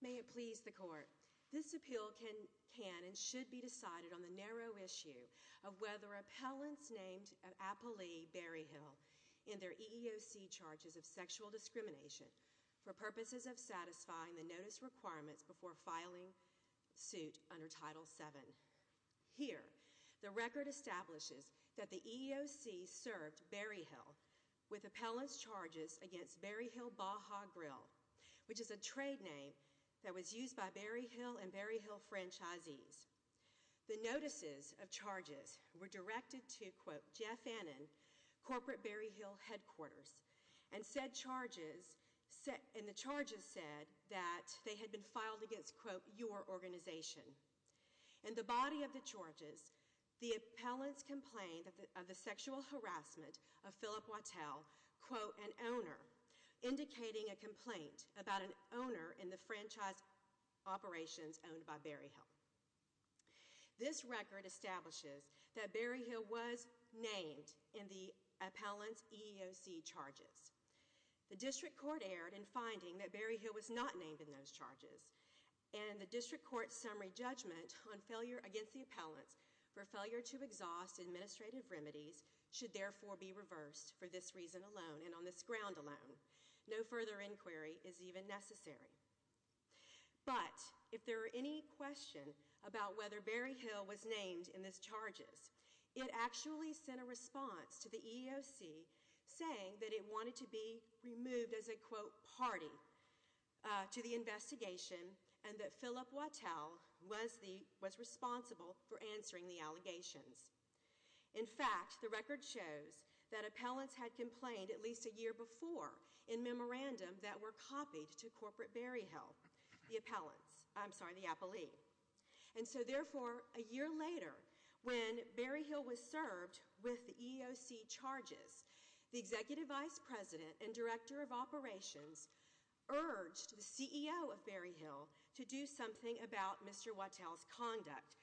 May it please the court, this appeal can and should be decided on the narrow issue of whether appellants named Apolli Berryhill in their EEOC charges of sexual discrimination for purposes of satisfying the notice requirements before filing suit under Title VII. Here, the record establishes that the EEOC served Berryhill with appellant's charges against Berryhill Baja Grill, which is a trade name that was used by Berryhill and Berryhill franchisees. The notices of charges were directed to Jeff Annen, Corporate Berryhill Headquarters, and the charges said that they had been filed against, quote, your organization. In the body of the charges, the appellants complained of the sexual harassment of Philip Wattel, quote, an owner, indicating a complaint about an owner in the franchise operations owned by Berryhill. This record establishes that Berryhill was named in the appellant's EEOC charges. The district court erred in finding that Berryhill was not named in those charges, and the district court's summary judgment on failure against the appellants for failure to exhaust administrative remedies should therefore be reversed for this reason alone and on this ground alone. No further inquiry is even necessary. But, if there are any questions about whether Berryhill was named in these charges, it actually sent a response to the court that it wanted to be removed as a, quote, party to the investigation and that Philip Wattel was the, was responsible for answering the allegations. In fact, the record shows that appellants had complained at least a year before in memorandum that were copied to Corporate Berryhill, the appellants, I'm sorry, the appellee. And so therefore, a year later, when Berryhill was served with the EEOC charges, the Executive Vice President and Director of Operations urged the CEO of Berryhill to do something about Mr. Wattel's conduct.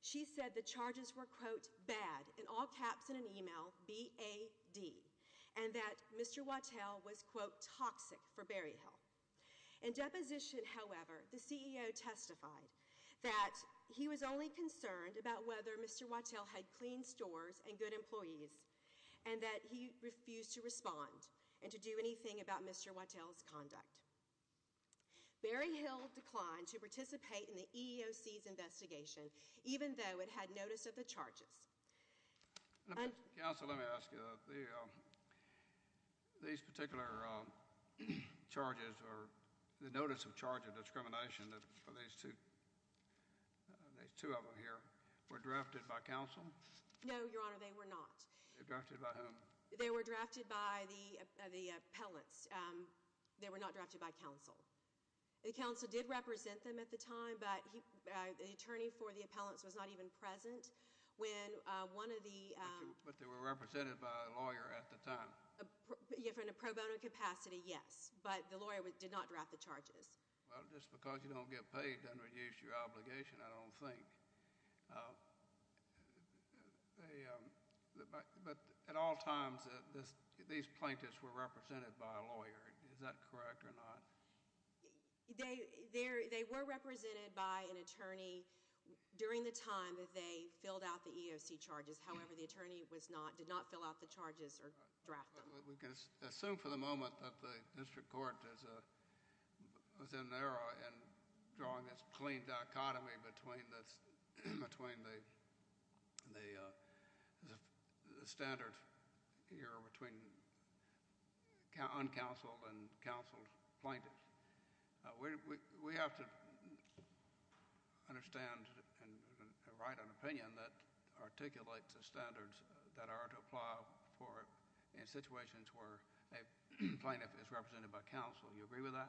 She said the charges were, quote, bad, in all caps in an email, B-A-D, and that Mr. Wattel was, quote, toxic for Berryhill. In deposition, however, the CEO testified that he was only concerned about whether Mr. Wattel had clean stores and good employees and that he refused to respond and to do anything about Mr. Wattel's conduct. Berryhill declined to participate in the EEOC's investigation, even though it had notice of the charges. Counsel, let me ask you, these particular charges or the notice of charge of discrimination for these two, these two of them here, were drafted by counsel? No, Your Honor, they were not. They were drafted by whom? They were drafted by the appellants. They were not drafted by counsel. The counsel did represent them at the time, but the attorney for the appellants was not even present when one of the... But they were represented by a lawyer at the time? In a pro bono capacity, yes, but the lawyer did not draft the charges. Well, just because you don't get paid doesn't reduce your obligation, I don't think. But at all times, these plaintiffs were represented by a lawyer. Is that correct or not? They were represented by an attorney during the time that they filled out the EEOC charges. However, the attorney did not fill out the charges or draft them. We can assume for the moment that the district court is in an era in drawing this clean dichotomy between the standard here between uncounseled and counseled plaintiffs. We have to understand and write an opinion that articulates the standards that are to apply for in situations where a plaintiff is represented by counsel. Do you agree with that?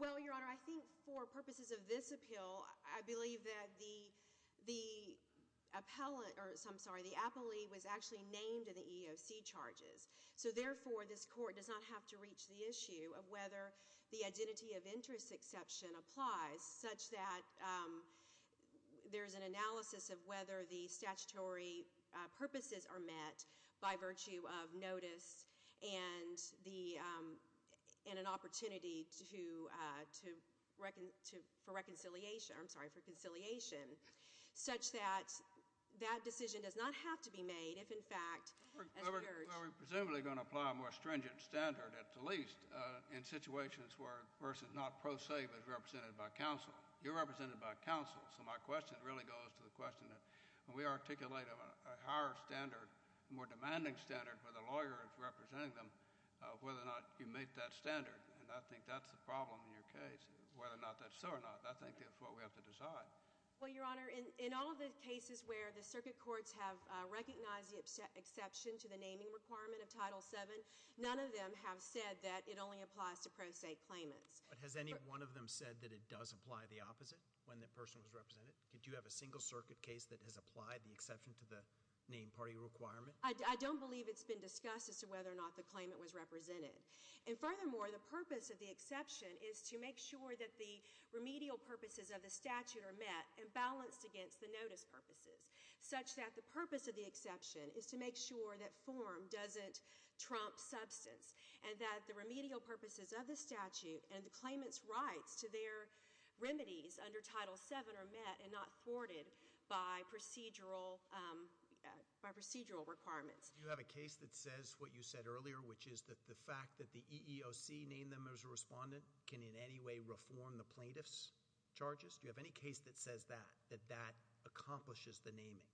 Well, Your Honor, I think for purposes of this appeal, I believe that the appellant... I'm sorry, the appellee was actually named in the EEOC charges. Therefore, this court does not have to reach the issue of whether the identity of interest exception applies such that there's an analysis of whether the statutory purposes are met by virtue of an opportunity for reconciliation such that that decision does not have to be made if in fact... Well, we're presumably going to apply a more stringent standard at the least in situations where a person is not pro se but is represented by counsel. You're represented by counsel. So my question really goes to the question that when we articulate a higher standard, a more demanding standard where the lawyer is representing them, whether or not you meet that standard. And I think that's the problem in your case, whether or not that's so or not. I think it's what we have to decide. Well, Your Honor, in all of the cases where the circuit courts have recognized the exception to the naming requirement of Title VII, none of them have said that it only applies to pro se claimants. But has any one of them said that it does apply the opposite when the person was represented? Did you have a single circuit case that has applied the exception to the name party requirement? I don't believe it's been discussed. It's just whether or not the claimant was represented. And furthermore, the purpose of the exception is to make sure that the remedial purposes of the statute are met and balanced against the notice purposes such that the purpose of the exception is to make sure that form doesn't trump substance and that the remedial purposes of the statute and the claimant's rights to their remedies under Title VII are met and not thwarted by procedural requirements. Do you have a case that says what you said earlier, which is that the fact that the EEOC named them as a respondent can in any way reform the plaintiff's charges? Do you have any case that says that, that that accomplishes the naming?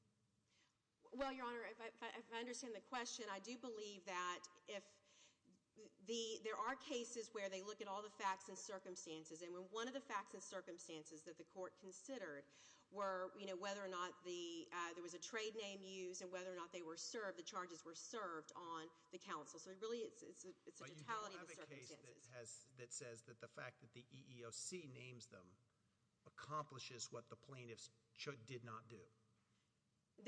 Well, Your Honor, if I understand the question, I do believe that if the, there are cases where they look at all the facts and circumstances, and when one of the facts and circumstances that the court considered were, you know, whether or not the, there was a trade name used and whether or not they were served, the charges were served on the counsel. So really it's a totality of the circumstances. But you don't have a case that has, that says that the fact that the EEOC names them accomplishes what the plaintiffs should, did not do?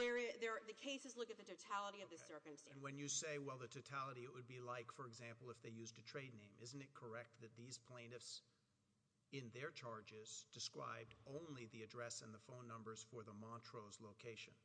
There, there, the cases look at the totality of the circumstances. Okay. And when you say, well, the totality, it would be like, for example, if they used a trade name, isn't it correct that these plaintiffs in their charges described only the address and the phone numbers for the Montrose location?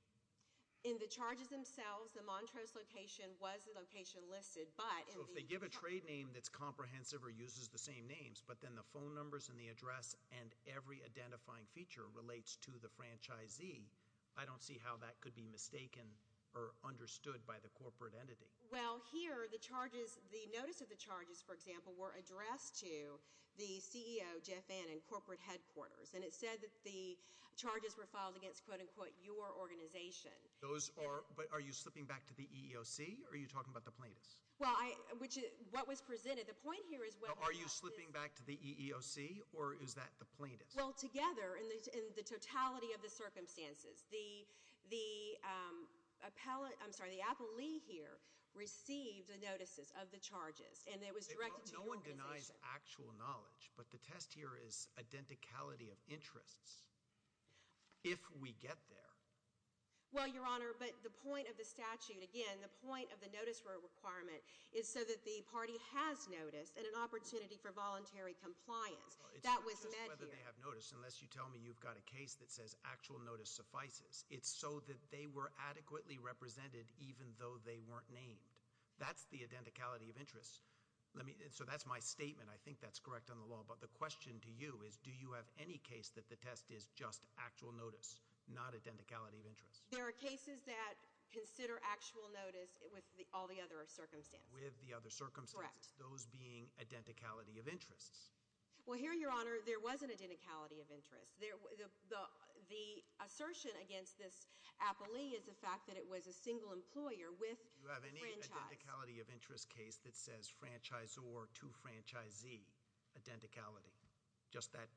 In the charges themselves, the Montrose location was the location listed, but in the... So if they give a trade name that's comprehensive or uses the same names, but then the phone numbers and the address and every identifying feature relates to the franchisee, I don't see how that could be mistaken or understood by the corporate entity. Well, here, the charges, the notice of the charges, for example, were addressed to the CEO, Jeff Annen, corporate headquarters. And it said that the charges were filed against, quote, unquote, your organization. Those are, but are you slipping back to the EEOC or are you talking about the plaintiffs? Well, I, which is, what was presented, the point here is whether... Are you slipping back to the EEOC or is that the plaintiffs? Well, together, in the totality of the circumstances, the appellate, I'm sorry, the appellee here received the notices of the charges and it was directed to the organization. No one denies actual knowledge, but the test here is identicality of interests. If we get there. Well, Your Honor, but the point of the statute, again, the point of the notice requirement is so that the party has noticed and an opportunity for voluntary compliance. That was met here. It's not just whether they have noticed, unless you tell me you've got a case that says actual notice suffices. It's so that they were adequately represented even though they weren't named. That's the identicality of interests. Let me, so that's my statement. I think that's is just actual notice, not identicality of interests. There are cases that consider actual notice with all the other circumstances. With the other circumstances. Correct. Those being identicality of interests. Well, here, Your Honor, there was an identicality of interests. The assertion against this appellee is the fact that it was a single employer with a franchise. Do you have any identicality of interest case that says franchisor to franchisee identicality? Just that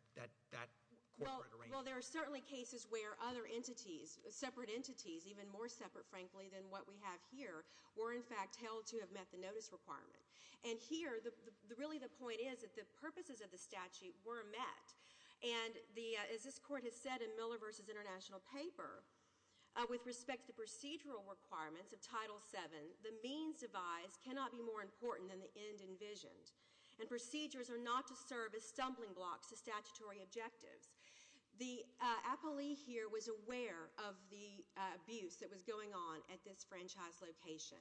corporate arrangement. Well, there are certainly cases where other entities, separate entities, even more separate, frankly, than what we have here, were in fact held to have met the notice requirement. And here, really the point is that the purposes of the statute were met. And as this Court has said in Miller v. International Paper, with respect to procedural requirements of Title VII, the means devised cannot be more important than the end envisioned. And procedures are not to serve as stumbling blocks to statutory objectives. The appellee here was aware of the abuse that was going on at this franchise location.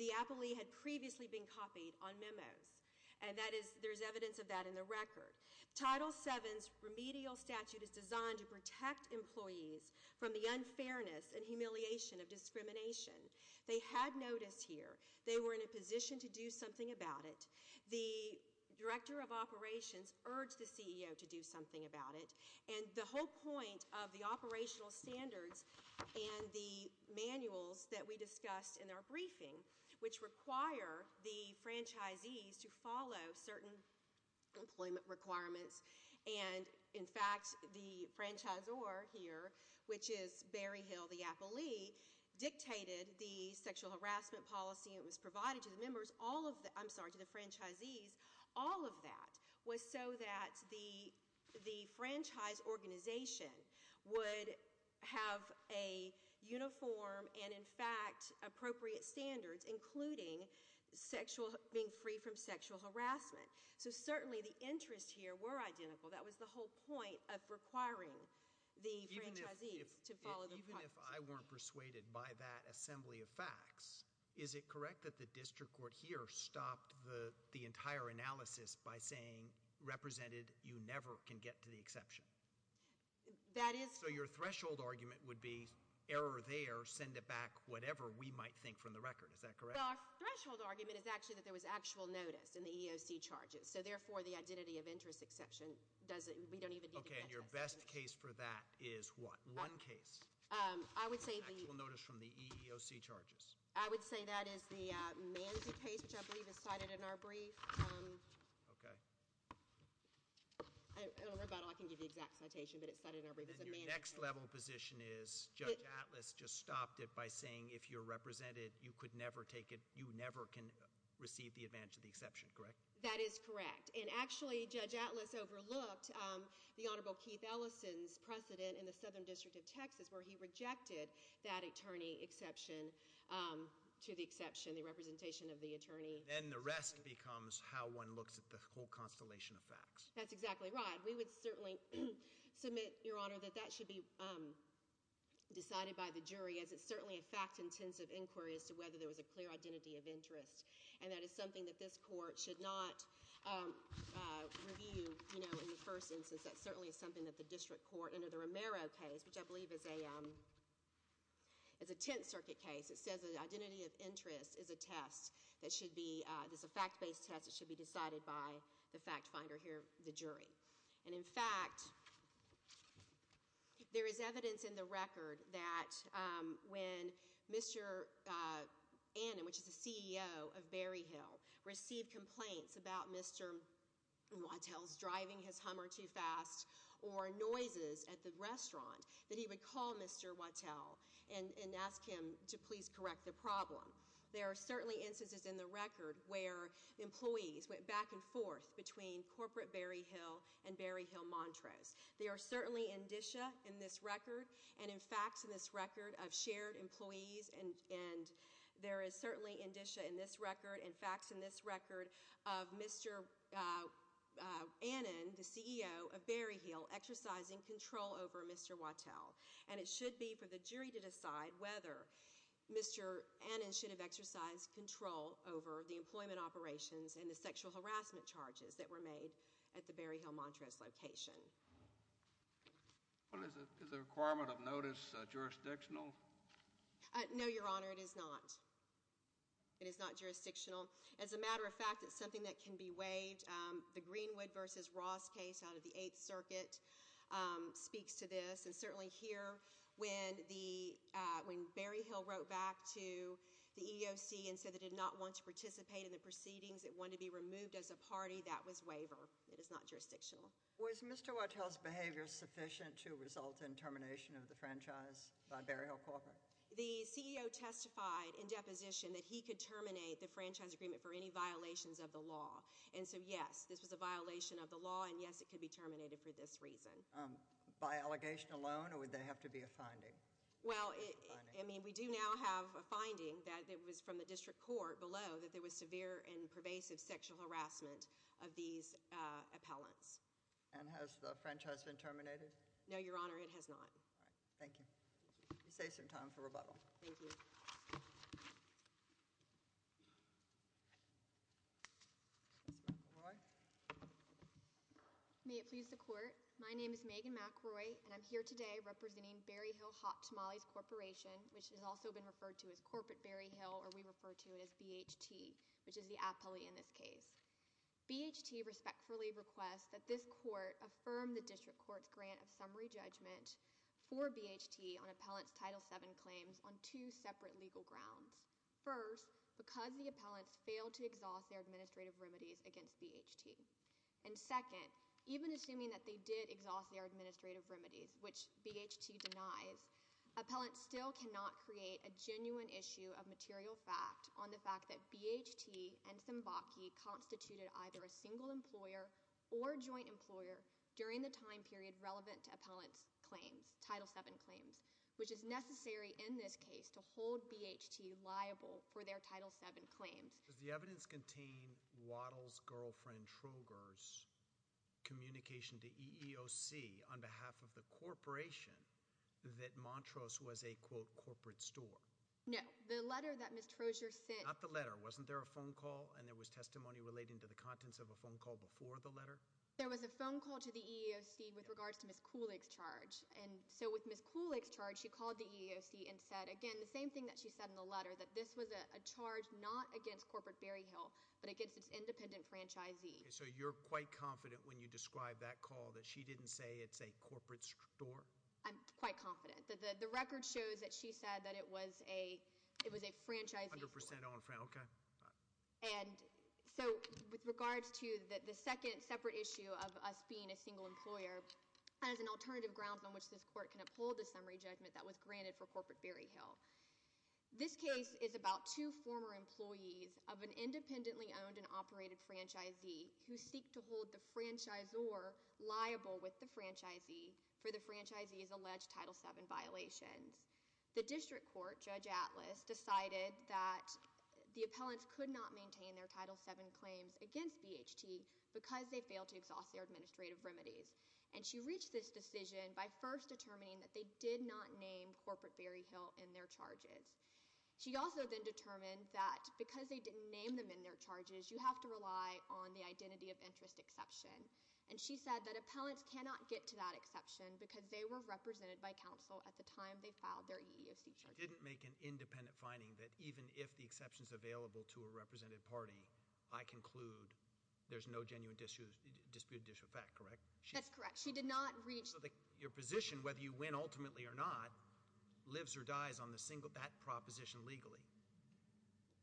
The appellee had previously been copied on memos. And that is, there's evidence of that in the record. Title VII's remedial statute is designed to protect employees from the unfairness and humiliation of discrimination. They had notice here. They were in a position to do something about it. The director of operations urged the CEO to do something about it. And the whole point of the operational standards and the manuals that we discussed in our briefing, which require the franchisees to follow certain employment requirements, and in fact the franchisor here, which is Barry Hill, the appellee, dictated the sexual harassment policy that was provided to the franchisees. All of that was so that the franchise organization would have a uniform and in fact appropriate standards including being free from sexual harassment. So certainly the interests here were identical. That was the whole point of requiring the franchisees to follow the policy. Even if I weren't persuaded by that assembly of facts, is it correct that the district court here stopped the entire analysis by saying, represented, you never can get to the exception? That is. So your threshold argument would be, error there, send it back whatever we might think from the record. Is that correct? Well, our threshold argument is actually that there was actual notice in the EEOC charges. So therefore, the identity of interest exception, we don't even need to address that. Okay. And your best case for that is what? One case. I would say the... Actual notice from the EEOC charges. I would say that is the Manzi case, which I believe is cited in our brief. Okay. I don't know about all, I can give you the exact citation, but it's cited in our brief as a Manzi case. And then your next level position is, Judge Atlas just stopped it by saying, if you're represented, you could never take it, you never can receive the advantage of the exception. represented, you could never take it, you never can receive the advantage of the exception. Correct? That is correct. And actually, Judge Atlas overlooked the Honorable Keith Ellison's precedent in the Southern District of Texas, where he rejected that attorney exception to the exception, the representation of the attorney. Then the rest becomes how one looks at the whole constellation of facts. That's exactly right. We would certainly submit, Your Honor, that that should be decided by the jury, as it's certainly a fact-intensive inquiry as to whether there was a clear identity of interest. District of Texas, where he rejected that attorney exception to the exception, the representation of the attorney, as it's certainly a fact-intensive inquiry as to whether there was a clear identity So, I think it's very important that we have a brief review in the first instance. That certainly is something that the district court, under the Romero case, which I believe is a Tenth Circuit case, it says that the identity of interest is a test that should be, it's a fact-based test that should be decided by the fact finder here, the jury. And in fact, there is evidence in the record that when Mr. Annem, which is the CEO of Berryhill, received complaints about Mr. Wattel's driving his Hummer too fast or noises at the restaurant, that he would call Mr. Wattel and ask him to please correct the problem. There are certainly instances in the record where employees went back and forth between corporate Berryhill and Berryhill Montrose. There are certainly indicia in this record and in facts in this record of shared employees and there is certainly indicia in this record and facts in this record of Mr. Annem, the CEO of Berryhill, exercising control over Mr. Wattel. And it should be for the jury to decide whether Mr. Annem should have exercised control over the employment operations and the sexual harassment charges that were made at the Berryhill Montrose location. Is the requirement of notice jurisdictional? No, Your Honor, it is not. It is not jurisdictional. As a matter of fact, it's something that can be waived. The Greenwood v. Ross case out of the Eighth Circuit speaks to this. And certainly here, when Berryhill wrote back to the EEOC and said they did not want to participate in the proceedings, they wanted to be removed as a party, that was waiver. It is not jurisdictional. Was Mr. Wattel's behavior sufficient to result in termination of the franchise by Berryhill Corp.? The CEO testified in deposition that he could terminate the franchise agreement for any violations of the law. And so, yes, this was a violation of the law and yes, it could be terminated for this reason. By allegation alone or would there have to be a finding? Well, I mean, we do now have a finding that it was from the district court below that there was severe and pervasive sexual harassment of these appellants. And has the franchise been terminated? No, Your Honor, it has not. All right. Thank you. You saved some time for rebuttal. Thank you. Ms. McElroy? May it please the Court? My name is Megan McElroy and I'm here today representing Berryhill Hot Tamales Corporation, which has also been referred to as Corporate Berryhill or we refer to it as BHT, which is the appellee in this case. BHT respectfully requests that this court affirm the district court's grant of summary judgment for BHT on appellant's Title VII claims on two separate legal grounds. First, because the appellants failed to exhaust their administrative remedies against BHT. And second, even assuming that they did exhaust their administrative remedies, which BHT denies, appellants still cannot create a genuine issue of material fact on the fact that BHT and Zimbocki constituted either a single employer or joint employer during the time period relevant to appellant's claims, Title VII claims, which is necessary in this case to hold BHT liable for their Title VII claims. Does the evidence contain Waddell's girlfriend, Troger's, communication to EEOC on behalf of the corporation that Montrose was a, quote, corporate store? No. The letter that Ms. Troger sent. Not the letter. Wasn't there a phone call and there was testimony relating to the contents of a phone call before the letter? There was a phone call to the EEOC with regards to Ms. Kulig's charge. And so with Ms. Kulig's charge, she called the EEOC and said, again, the same thing that she said in the letter, that this was a charge not against Corporate Berryhill, but against its independent franchisee. So you're quite confident when you describe that call that she didn't say it's a corporate store? I'm quite confident. The record shows that she said that it was a, it was a franchisee. 100% owned, okay. And so with regards to the second separate issue of us being a single employer, as an alternative grounds on which this court can uphold a summary judgment that was granted for Corporate Berryhill, this case is about two former employees of an independently owned and operated franchisee who seek to hold the franchisor liable with the franchisee for the franchisee's alleged Title VII violations. The district court, Judge Atlas, decided that the appellants could not maintain their Title VII claims against BHT because they failed to exhaust their administrative remedies. And she reached this decision by first determining that they did not name Corporate Berryhill in their charges. She also then determined that because they didn't name them in their charges, you have to rely on the identity of interest exception. And she said that appellants cannot get to that exception because they were represented by counsel at the time they filed their EEOC charges. She didn't make an independent finding that even if the exception's available to a represented party, I conclude there's no genuine dispute of fact, correct? That's correct. She did not reach. So your position, whether you win ultimately or not, lives or dies on that proposition legally?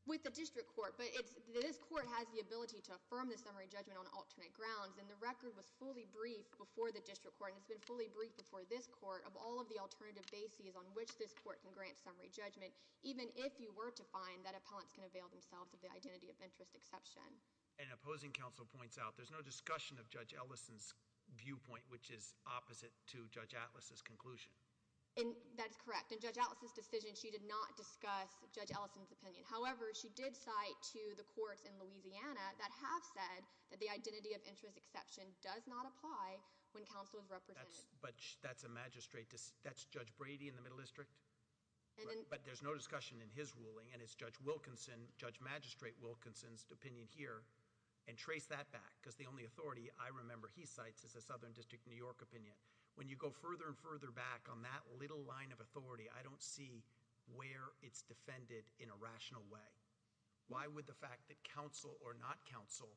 With the district court, but this court has the ability to affirm the summary judgment on alternate grounds and the record was fully briefed before the district court and it's been fully briefed before this court of all of the alternative bases on which this court can grant summary judgment, even if you were to find that appellants can avail themselves of the identity of interest exception. And opposing counsel points out there's no discussion of Judge Ellison's viewpoint, which is opposite to Judge Atlas's conclusion. And that's correct. In Judge Atlas's decision, she did not discuss Judge Ellison's opinion. However, she did cite to the courts in Louisiana that have said that the identity of interest exception does not apply when counsel is represented. But that's a magistrate. That's Judge Brady in the Middle District? But there's no discussion in his ruling and it's Judge Wilkinson, Judge Magistrate Wilkinson's opinion here and trace that back because the only authority I remember he cites is the Louisiana District of New York opinion. When you go further and further back on that little line of authority, I don't see where it's defended in a rational way. Why would the fact that counsel or not counsel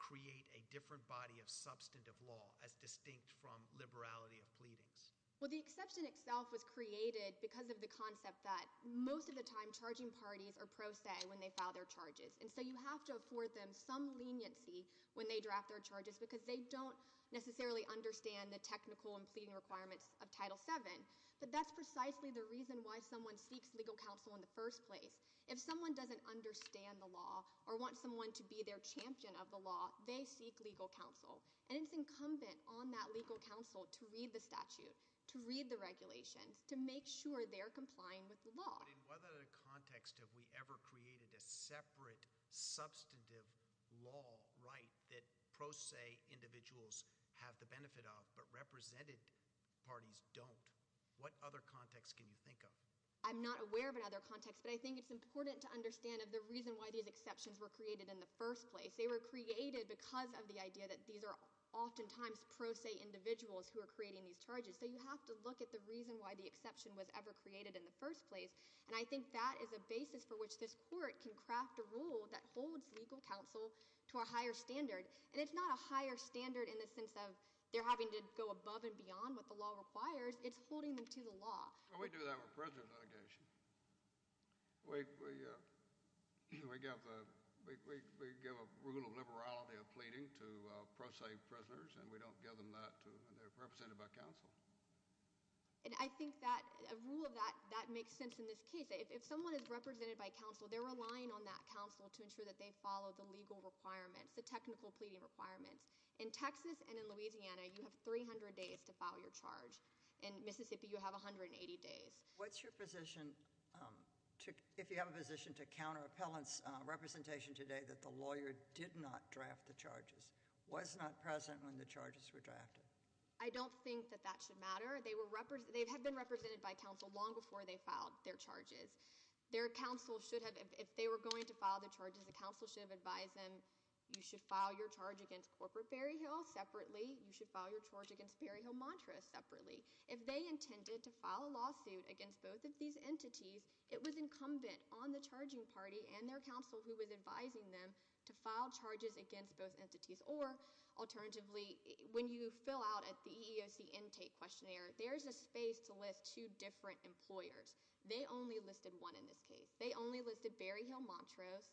create a different body of substantive law as distinct from liberality of pleadings? Well, the exception itself was created because of the concept that most of the time charging parties are pro se when they file their charges. And so you have to afford them some leniency when they draft their charges because they don't necessarily understand the technical and pleading requirements of Title VII. But that's precisely the reason why someone seeks legal counsel in the first place. If someone doesn't understand the law or want someone to be their champion of the law, they seek legal counsel. And it's incumbent on that legal counsel to read the statute, to read the regulations, to make sure they're complying with the law. But in what other context have we ever created a separate substantive law that pro se individuals have the benefit of but represented parties don't? What other context can you think of? I'm not aware of another context, but I think it's important to understand the reason why these exceptions were created in the first place. They were created because of the idea that these are oftentimes pro se individuals who are creating these charges. So you have to look at the reason why the exception was ever created in the first place. And I think that is a basis for which this court can craft a rule that holds legal counsel to a higher standard. And it's not a higher standard in the sense of they're having to go above and beyond what the law requires. It's holding them to the law. We do that with prisoner litigation. We give a rule of liberality of pleading to pro se prisoners and we don't give them that and they're represented by counsel. And I think that a rule of that makes sense in this case. If someone is represented by counsel, they're relying on that counsel to ensure that they follow the legal requirements, the technical pleading requirements. In Texas and in Louisiana, you have 300 days to file your charge. In Mississippi, you have 180 days. What's your position if you have a position to counter appellant's representation today that the lawyer did not draft the charges, was not present when the charges were drafted? I don't think that that should matter. They have been represented by counsel long before they filed their charges. Their counsel should have, if they were going to file the charges, the counsel should have advised them you should file your charge against corporate Berryhill separately. You should file your charge against Berryhill Mantra separately. If they intended to file a lawsuit against both of these entities, it was incumbent on the charging party and their counsel who was advising them to file charges against both At the EEOC intake questionnaire, there's a space to list two different employers. They only listed one in this case. They only listed Berryhill Mantras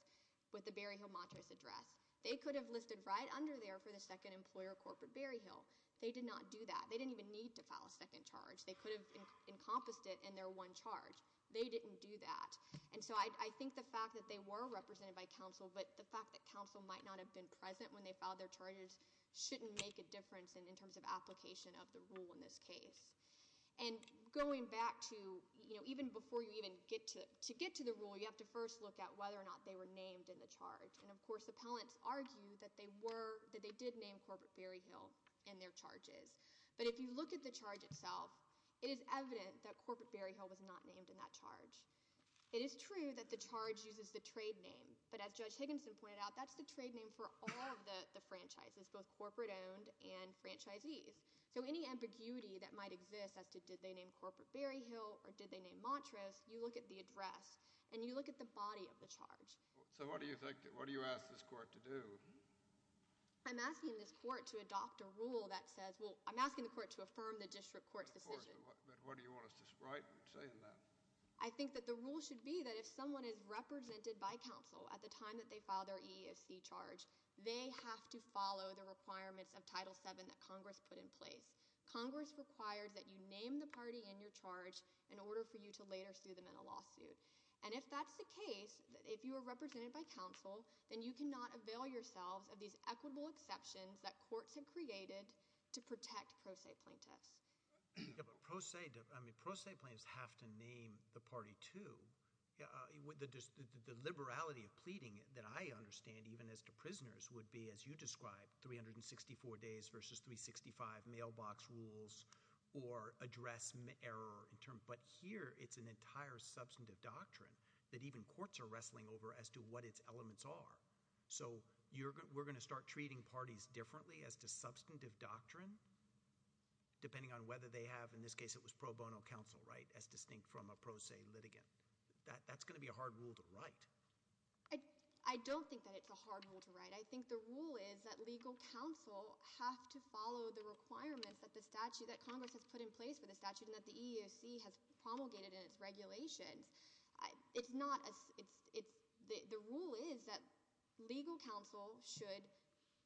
with the Berryhill Mantras address. They could have listed right under there for the second employer, corporate Berryhill. They did not do that. They didn't even need to file a second charge. They could have encompassed it in their one charge. They didn't do that. I think the fact that they were represented by counsel, but the fact that counsel might not have been present when they filed their charges shouldn't make a difference in terms of application of the rule in this case. Going back to, even before you even get to the rule, you have to first look at whether or not they were named in the charge. Of course, appellants argue that they did name corporate Berryhill in their charges. If you look at the charge itself, it is evident that corporate Berryhill was not named in that charge. It is true that the charge uses the trade name. As Judge Higginson pointed out, that's the trade name for all of the franchises, both So any ambiguity that might exist as to did they name corporate Berryhill or did they name Montrose, you look at the address and you look at the body of the charge. So what do you think, what do you ask this court to do? I'm asking this court to adopt a rule that says, well, I'm asking the court to affirm the district court's decision. But what do you want us to say in that? I think that the rule should be that if someone is represented by counsel at the time that they file their EEC charge, they have to follow the requirements of Title VII that Congress put in place. Congress requires that you name the party in your charge in order for you to later sue them in a lawsuit. And if that's the case, if you are represented by counsel, then you cannot avail yourselves of these equitable exceptions that courts have created to protect pro se plaintiffs. Yeah, but pro se, I mean, pro se plaintiffs have to name the party too. The liberality of pleading that I understand, even as to prisoners, would be, as you described, 364 days versus 365 mailbox rules or address error. But here, it's an entire substantive doctrine that even courts are wrestling over as to what its elements are. So we're going to start treating parties differently as to substantive doctrine, depending on whether they have, in this case it was pro bono counsel, right, as distinct from a pro se litigant. That's going to be a hard rule to write. I don't think that it's a hard rule to write. I think the rule is that legal counsel have to follow the requirements that the statute that Congress has put in place for the statute and that the EEOC has promulgated in its regulations. The rule is that legal counsel should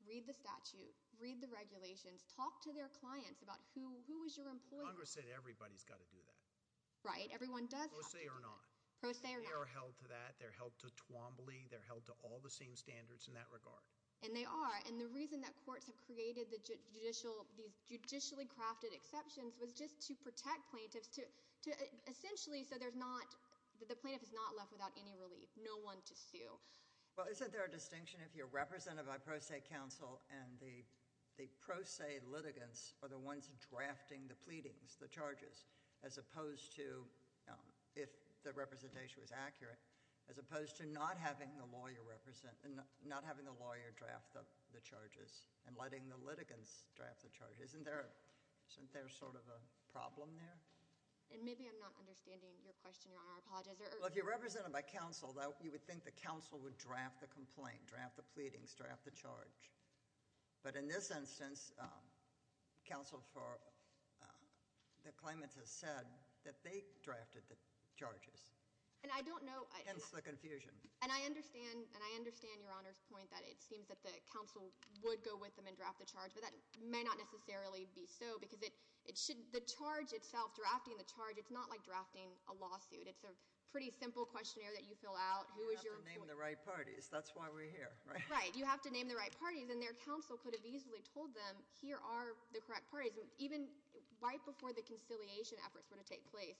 read the statute, read the regulations, talk to their clients about who is your employee. Congress said everybody's got to do that. Right, everyone does have to do that. Pro se or not. Pro se or not. They are held to that. They're held to Twombly. They're held to all the same standards in that regard. And they are. And the reason that courts have created the judicial, these judicially crafted exceptions was just to protect plaintiffs to essentially so there's not, the plaintiff is not left without any relief. No one to sue. Well, isn't there a distinction if you're represented by pro se counsel and the pro se litigants are the ones drafting the pleadings, the charges, as opposed to, if the representation was accurate, as opposed to not having the lawyer represent, not having the lawyer draft the charges and letting the litigants draft the charges. Isn't there sort of a problem there? And maybe I'm not understanding your question, Your Honor. I apologize. Well, if you're represented by counsel, you would think the counsel would draft the complaint, draft the pleadings, draft the charge. But in this instance, counsel for the claimants has said that they drafted the charges. And I don't know. Hence the confusion. And I understand, and I understand Your Honor's point that it seems that the counsel would go with them and draft the charge, but that may not necessarily be so because it should, the charge itself, drafting the charge, it's not like drafting a lawsuit. It's a pretty simple questionnaire that you fill out. Who is your employee? You have to name the right parties. That's why we're here, right? Right. You have to name the right parties. And their counsel could have easily told them, here are the correct parties. Even right before the conciliation efforts were to take place,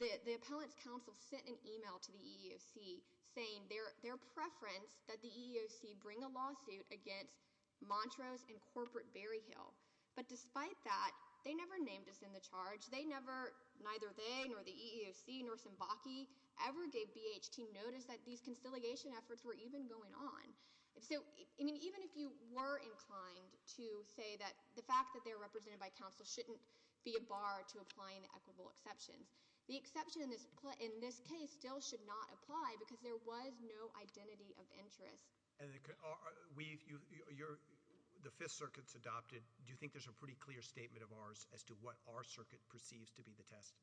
the appellant's counsel sent an email to the EEOC saying their preference that the EEOC bring a lawsuit against Montrose and Corporate Berryhill. But despite that, they never named us in the charge. They never, neither they nor the EEOC nor Symbachy ever gave BHT notice that these conciliation efforts were even going on. So, I mean, even if you were inclined to say that the fact that they're represented by counsel shouldn't be a bar to applying the equitable exceptions, the exception in this case still should not apply because there was no identity of interest. And we've, you're, the Fifth Circuit's adopted. Do you think there's a pretty clear statement of ours as to what our circuit perceives to be the test?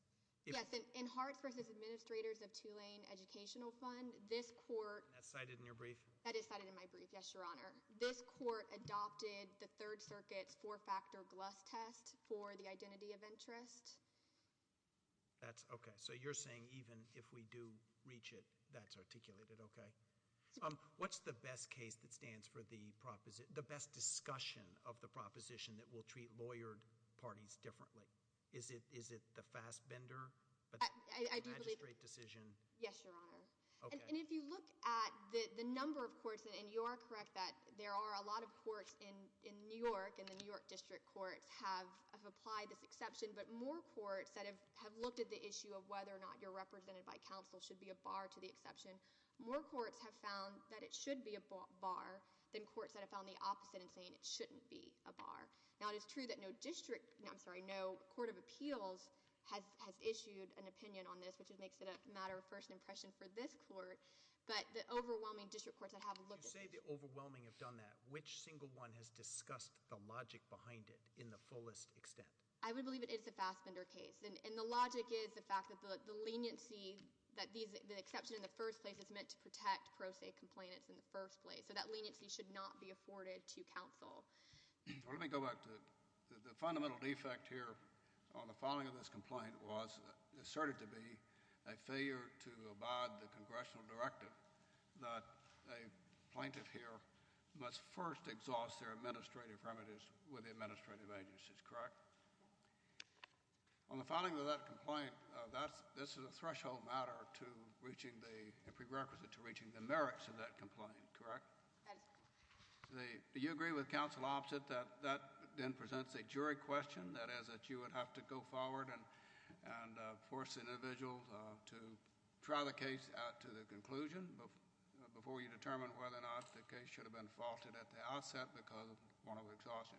Yes. In Harts v. Administrators of Tulane Educational Fund, this court. And that's cited in your brief? That is cited in my brief, yes, Your Honor. This court adopted the Third Circuit's four-factor GLUST test for the identity of interest. That's, okay. So you're saying even if we do reach it, that's articulated, okay. What's the best case that stands for the proposition, the best discussion of the proposition that will treat lawyered parties differently? Is it, is it the fast bender? I do believe. The magistrate decision? Yes, Your Honor. Okay. And if you look at the, the number of courts, and you are correct that there are a lot of courts in, in New York and the New York District Courts have, have applied this exception, but more courts that have, have looked at the issue of whether or not you're represented by counsel should be a bar to the exception, more courts have found that it should be a bar than courts that have found the opposite in saying it shouldn't be a bar. Now, it is true that no district, no, I'm sorry, no court of appeals has, has issued an opinion on this, which makes it a matter of first impression for this court, but the overwhelming district courts that have looked at this. You say the overwhelming have done that. Which single one has discussed the logic behind it in the fullest extent? I would believe it is the fast bender case. And, and the logic is the fact that the, the leniency that these, the exception in the first place is meant to protect pro se complainants in the first place. So that leniency should not be afforded to counsel. Well, let me go back to the, the fundamental defect here on the filing of this complaint was asserted to be a failure to abide the congressional directive that a plaintiff here must first exhaust their administrative remedies with the administrative agencies. Correct? Yes. On the filing of that complaint, that's, this is a threshold matter to reaching the, a prerequisite to reaching the merits of that complaint. Correct? That is correct. The, do you agree with counsel opposite that, that then presents a jury question? That is that you would have to go forward and, and force the individual to try the case out to the conclusion before you determine whether or not the case should have been faulted at the outset because of want of exhaustion.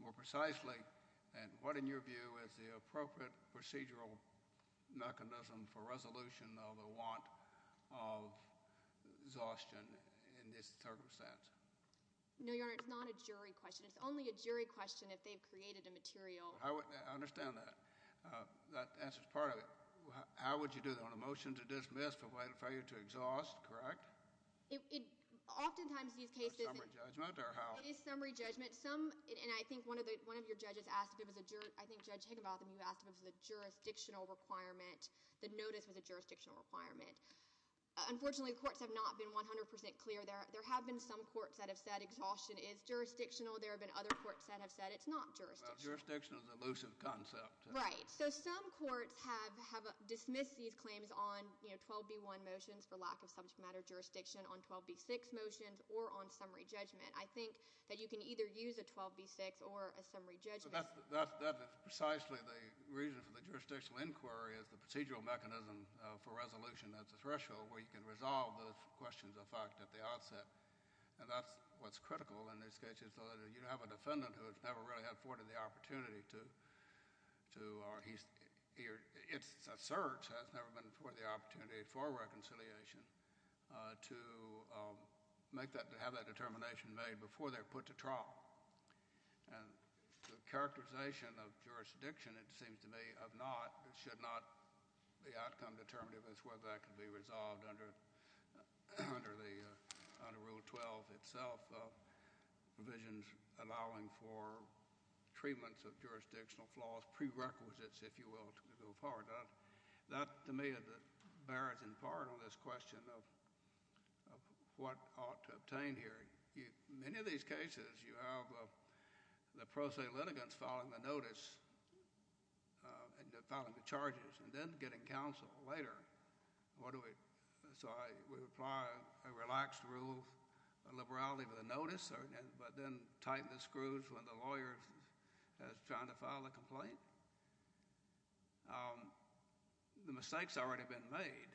More precisely, and what in your view is the appropriate procedural mechanism for No, Your Honor. It's not a jury question. It's only a jury question if they've created a material. I understand that. Uh, that answers part of it. How would you do that on a motion to dismiss but wait for you to exhaust? Correct? It, it, oftentimes these cases, Is it summary judgment or how? It is summary judgment. Some, and I think one of the, one of your judges asked if it was a jur, I think Judge Higginbotham, you asked if it was a jurisdictional requirement. The notice was a jurisdictional requirement. Unfortunately, the courts have not been 100% clear. There, there have been some courts that have said exhaustion is jurisdictional. There have been other courts that have said it's not jurisdictional. Well, jurisdiction is an elusive concept. Right. So some courts have, have dismissed these claims on, you know, 12B1 motions for lack of subject matter jurisdiction, on 12B6 motions, or on summary judgment. I think that you can either use a 12B6 or a summary judgment. So that's, that's, that's precisely the reason for the jurisdictional inquiry is the procedural mechanism for resolution. That's a threshold where you can resolve those questions of fact at the outset. And that's what's critical in these cases so that you don't have a defendant who has never really had, afforded the opportunity to, to, or he's, it's assert has never been afforded the opportunity for reconciliation to make that, to have that determination made before they're put to trial. And the characterization of jurisdiction, it seems to me, of not, should not be outcome determinative as whether that can be resolved under, under the, under Rule 12 itself. Provisions allowing for treatments of jurisdictional flaws, prerequisites, if you will, to go forward. That, that to me, that bears in part on this question of, of what ought to obtain here. You, many of these cases, you have the pro se litigants filing the notice, filing the complaint later. What do we, so I, we apply a relaxed rule of liberality with a notice, but then tighten the screws when the lawyer is trying to file a complaint? The mistake's already been made.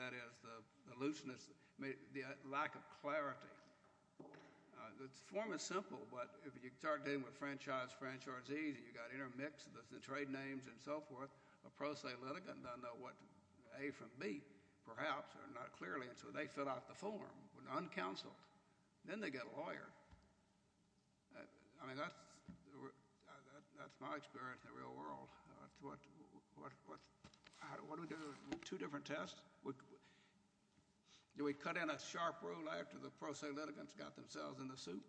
That is, the looseness, the lack of clarity. The form is simple, but if you start dealing with franchise, franchisees, you got intermixed with the trade names and so forth, a pro se litigant doesn't know what, A from B, perhaps, or not clearly, and so they fill out the form when uncounseled. Then they get a lawyer. I mean, that's, that's my experience in the real world. What, what, what, what do we do? Two different tests? Do we cut in a sharp rule after the pro se litigants got themselves in the suit?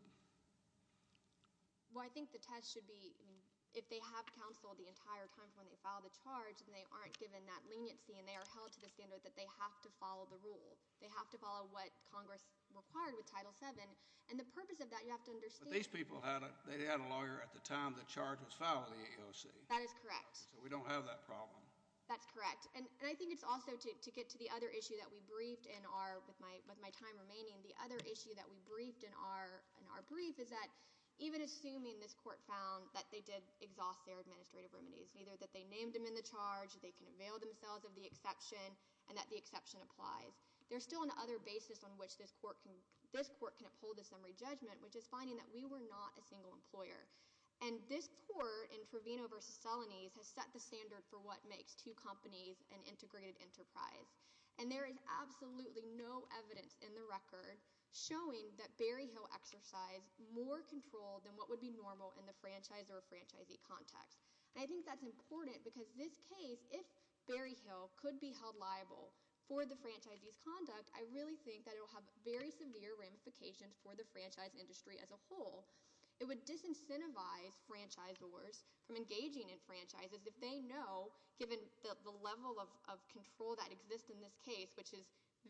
Well, I think the test should be, if they have counseled the entire time from when they filed the charge, and they aren't given that leniency, and they are held to the standard that they have to follow the rule. They have to follow what Congress required with Title VII, and the purpose of that, you have to understand. But these people had a, they had a lawyer at the time the charge was filed with the AOC. That is correct. So we don't have that problem. That's correct. And, and I think it's also to, to get to the other issue that we briefed in our, with my, my time remaining, the other issue that we briefed in our, in our brief is that even assuming this court found that they did exhaust their administrative remedies, either that they named them in the charge, they can avail themselves of the exception, and that the exception applies. There's still another basis on which this court can, this court can uphold a summary judgment, which is finding that we were not a single employer. And this court in Trevino v. Solanes has set the standard for what makes two companies an integrated enterprise. And there is absolutely no evidence in the record showing that Berryhill exercised more control than what would be normal in the franchisor-franchisee context. And I think that's important because this case, if Berryhill could be held liable for the franchisee's conduct, I really think that it will have very severe ramifications for the franchise industry as a whole. It would disincentivize franchisors from engaging in franchises if they know, given the, the control that exists in this case, which is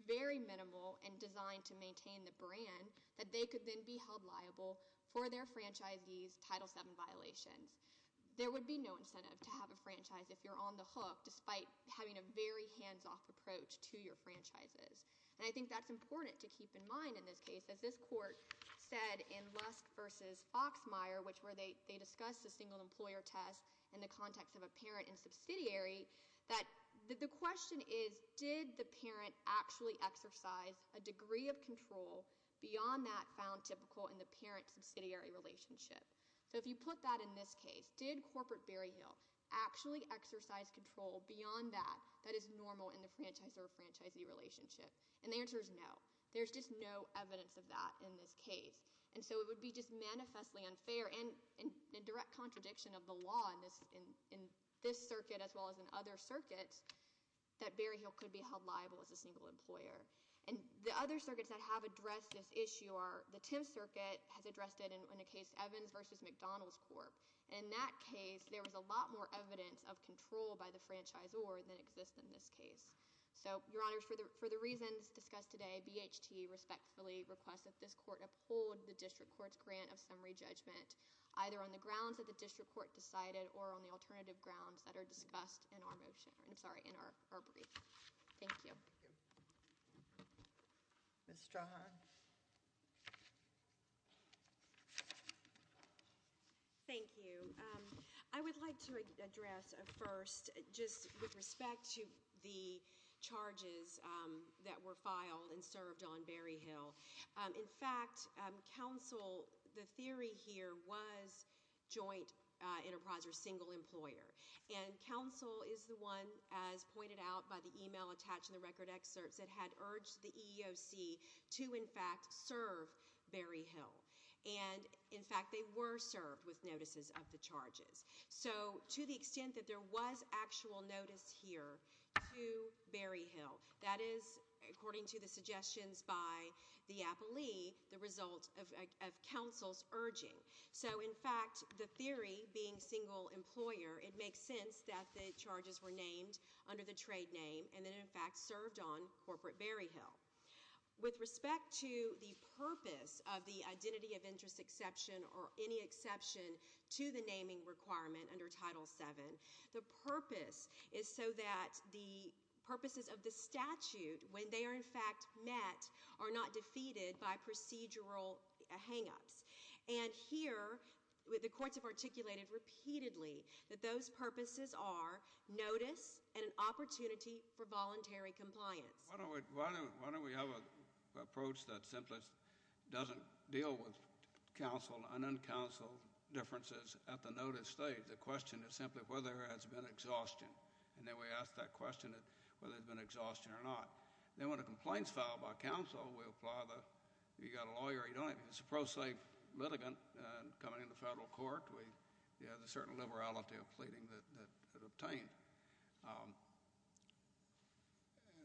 very minimal and designed to maintain the brand, that they could then be held liable for their franchisee's Title VII violations. There would be no incentive to have a franchise if you're on the hook, despite having a very hands-off approach to your franchises. And I think that's important to keep in mind in this case. As this court said in Lust v. Foxmeyer, which where they, they discussed the single employer test in the context of a parent and subsidiary, that the question is, did the parent actually exercise a degree of control beyond that found typical in the parent-subsidiary relationship? So if you put that in this case, did corporate Berryhill actually exercise control beyond that that is normal in the franchisor-franchisee relationship? And the answer is no. There's just no evidence of that in this case. And so it would be just manifestly unfair, and in direct contradiction of the law in this, in, in this circuit as well as in other circuits, that Berryhill could be held liable as a single employer. And the other circuits that have addressed this issue are, the Tim circuit has addressed it in a case, Evans v. McDonald's Corp. And in that case, there was a lot more evidence of control by the franchisor than exists in this case. So, Your Honors, for the, for the reasons discussed today, BHT respectfully requests that this court uphold the district court's grant of summary judgment, either on the grounds that the district court decided or on the alternative grounds that are discussed in our motion, I'm sorry, in our, our brief. Thank you. Ms. Strahan. Thank you. I would like to address first, just with respect to the charges that were filed and served on Berryhill. In fact, counsel, the theory here was joint enterprise or single employer. And counsel is the one, as pointed out by the email attached in the record excerpts that had urged the EEOC to, in fact, serve Berryhill. And, in fact, they were served with notices of the charges. So, to the extent that there was actual notice here to Berryhill, that is, according to the suggestions by the appellee, the result of, of counsel's urging. So, in fact, the theory being single employer, it makes sense that the charges were named under the trade name and then, in fact, served on corporate Berryhill. With respect to the purpose of the identity of interest exception or any exception to the naming requirement under Title VII, the purpose is so that the purposes of the statute, when they are, in fact, met, are not defeated by procedural hang-ups. And here, the courts have articulated repeatedly that those purposes are notice and an opportunity for voluntary compliance. Why don't we have an approach that simply doesn't deal with counsel and uncounseled differences at the notice stage? The question is simply whether there has been exhaustion. And then we ask that question whether there has been exhaustion or not. Then, when a complaint is filed by counsel, we apply the, you've got a lawyer, you don't have, it's a pro se litigant coming into federal court. We, you have a certain liberality of pleading that, that is obtained.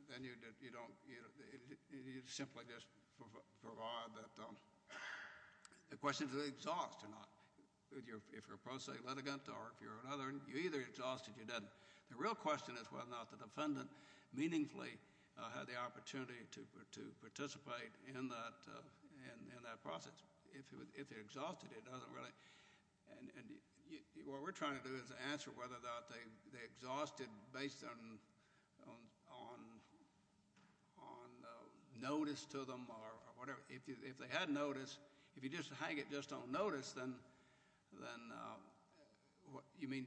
Then you don't, you simply just provide that, the question is, is it exhausted or not? If you're a pro se litigant or if you're another, you're either exhausted or you're not. The real question is whether or not the defendant meaningfully had the opportunity to participate in that process. If it exhausted, it doesn't really, and what we're trying to do is answer whether or not they exhausted based on notice to them or whatever. If they had notice, if you just hang it just on notice, then, then you mean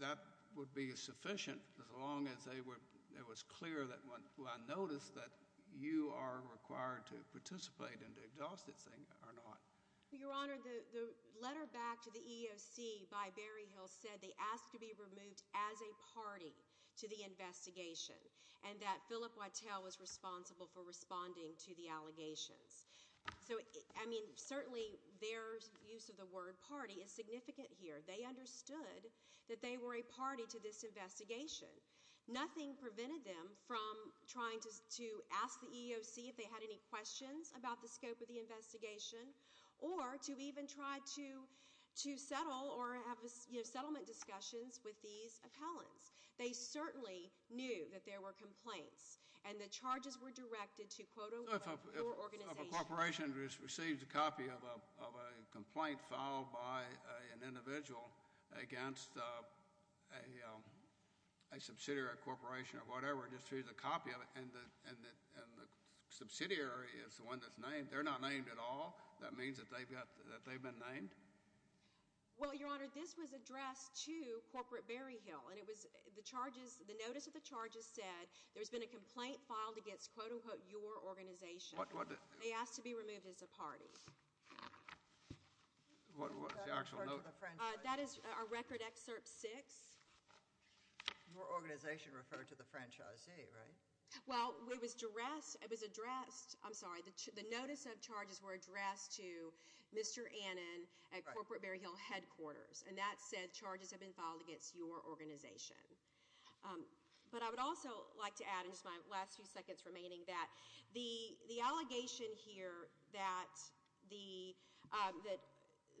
that would be sufficient as long as they were, it was clear that when I noticed that you are required to participate in the exhausted thing or not? Your Honor, the letter back to the EEOC by Berryhill said they asked to be removed as a party to the investigation and that Philip Whittell was responsible for responding to the allegations. So, I mean, certainly their use of the word party is significant here. They understood that they were a party to this investigation. Nothing prevented them from trying to, to ask the EEOC if they had any questions about the scope of the investigation or to even try to, to settle or have a, you know, settlement discussions with these appellants. They certainly knew that there were complaints and the charges were directed to, quote, your organization. So if a corporation receives a copy of a, of a complaint filed by an individual against a, a subsidiary corporation or whatever just through the copy of it and the, and the, and the subsidiary is the one that's named, they're not named at all. That means that they've got, that they've been named? Well, Your Honor, this was addressed to Corporate Berryhill and it was, the charges, the notice of the charges said there's been a complaint filed against, quote, unquote, your organization. What, what? They asked to be removed as a party. What, what was the actual note? That is our record excerpt six. Your organization referred to the franchisee, right? Well, it was addressed, it was addressed, I'm sorry, the, the notice of charges were directed to Mr. Annen at Corporate Berryhill headquarters. And that said, charges have been filed against your organization. But I would also like to add in just my last few seconds remaining that the, the allegation here that the, that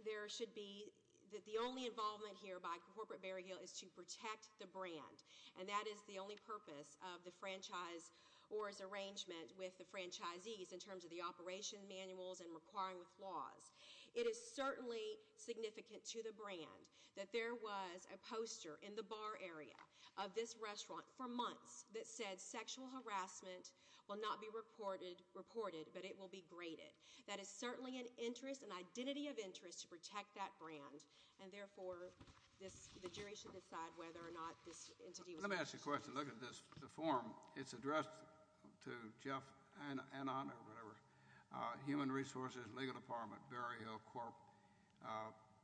there should be, that the only involvement here by Corporate Berryhill is to protect the brand. And that is the only purpose of the franchise or its arrangement with the franchisees in terms of the operation manuals and requiring with laws. It is certainly significant to the brand that there was a poster in the bar area of this restaurant for months that said sexual harassment will not be reported, reported, but it will be graded. That is certainly an interest, an identity of interest to protect that brand. And therefore, this, the jury should decide whether or not this entity was. Let me ask you a question. If you look at this, the form, it's addressed to Jeff Annen or whatever, Human Resources Legal Department, Berryhill Corp,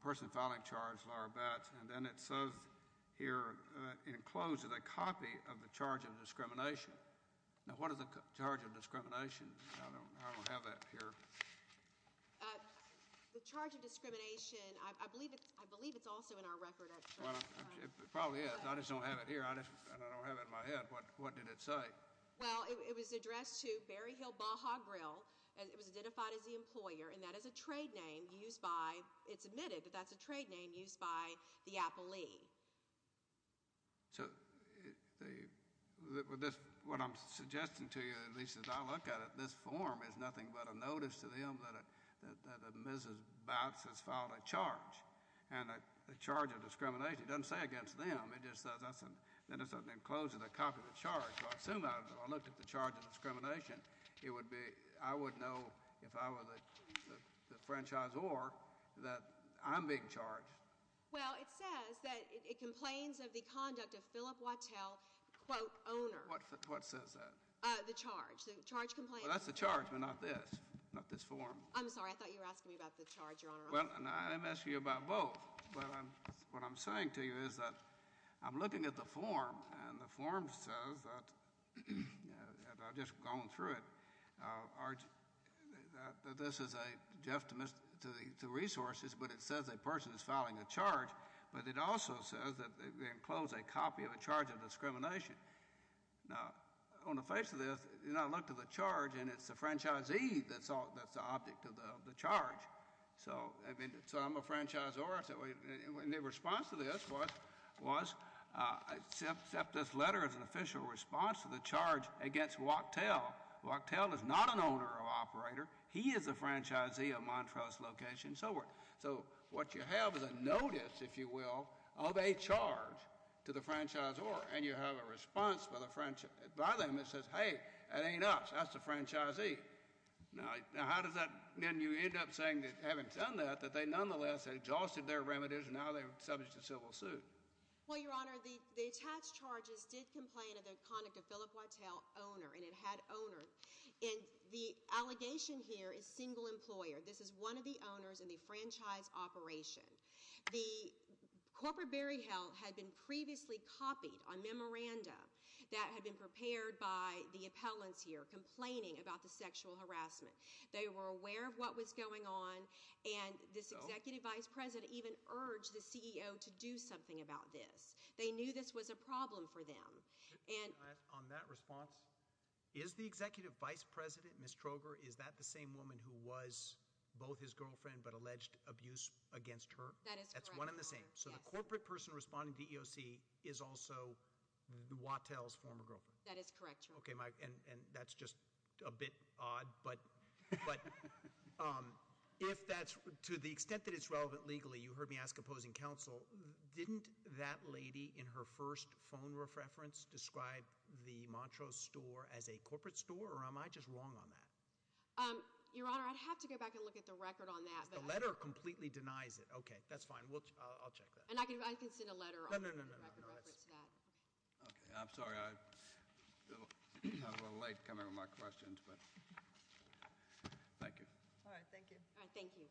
person filing charge, Laura Batts. And then it says here, enclosed is a copy of the charge of discrimination. Now, what is the charge of discrimination? I don't, I don't have that here. The charge of discrimination, I believe it's, I believe it's also in our record. Well, it probably is. I just don't have it here. I just, I don't have it in my head. What did it say? Well, it was addressed to Berryhill Baja Grill. It was identified as the employer, and that is a trade name used by, it's admitted that that's a trade name used by the Apple League. So, the, this, what I'm suggesting to you, at least as I look at it, this form is nothing but a notice to them that a, that a Mrs. Batts has filed a charge. And the charge of discrimination, it doesn't say against them. It just says, that's an, that is an enclosed, a copy of the charge. So, I assume I, if I looked at the charge of discrimination, it would be, I would know if I were the, the franchisee or that I'm being charged. Well, it says that it complains of the conduct of Philip Wattel, quote, owner. What, what says that? The charge, the charge complaint. Well, that's the charge, but not this, not this form. I'm sorry, I thought you were asking me about the charge, Your Honor. Well, no, I didn't ask you about both, but I'm, what I'm saying to you is that I'm looking at the form, and the form says that, and I've just gone through it, that this is a, just to, to the resources, but it says a person is filing a charge, but it also says that it enclosed a copy of a charge of discrimination. Now, on the face of this, you know, I looked at the charge, and it's the franchisee that's the object of the charge. So, I mean, so I'm a franchisor, and the response to this was, was accept this letter as an official response to the charge against Wattel. Wattel is not an owner or operator. He is the franchisee of Montrose location, so we're, so what you have is a notice, if you will, of a charge to the franchisor, and you have a response by the, by them that says, hey, that ain't us, that's the franchisee. Now, how does that, then you end up saying that having done that, that they nonetheless exhausted their remedies, and now they're subject to civil suit? Well, Your Honor, the attached charges did complain of the conduct of Philip Wattel, owner, and it had owner, and the allegation here is single employer. This is one of the owners in the franchise operation. The corporate burial had been previously copied on memorandum that had been prepared by the appellants here and they were complaining about the sexual harassment. They were aware of what was going on, and this executive vice president even urged the CEO to do something about this. They knew this was a problem for them. On that response, is the executive vice president, Ms. Troger, is that the same woman who was both his girlfriend but alleged abuse against her? That is correct, Your Honor. That's one and the same? Yes. So the corporate person responding to EOC is also Wattel's former girlfriend? That is correct, Your Honor. Okay, and that's just a bit odd. But to the extent that it's relevant legally, you heard me ask opposing counsel, didn't that lady in her first phone reference describe the Montrose store as a corporate store or am I just wrong on that? Your Honor, I'd have to go back and look at the record on that. The letter completely denies it. Okay, that's fine. I'll check that. And I can send a letter on the record reference to that. Okay, I'm sorry. I'm a little late coming with my questions, but thank you. All right, thank you. All right, thank you.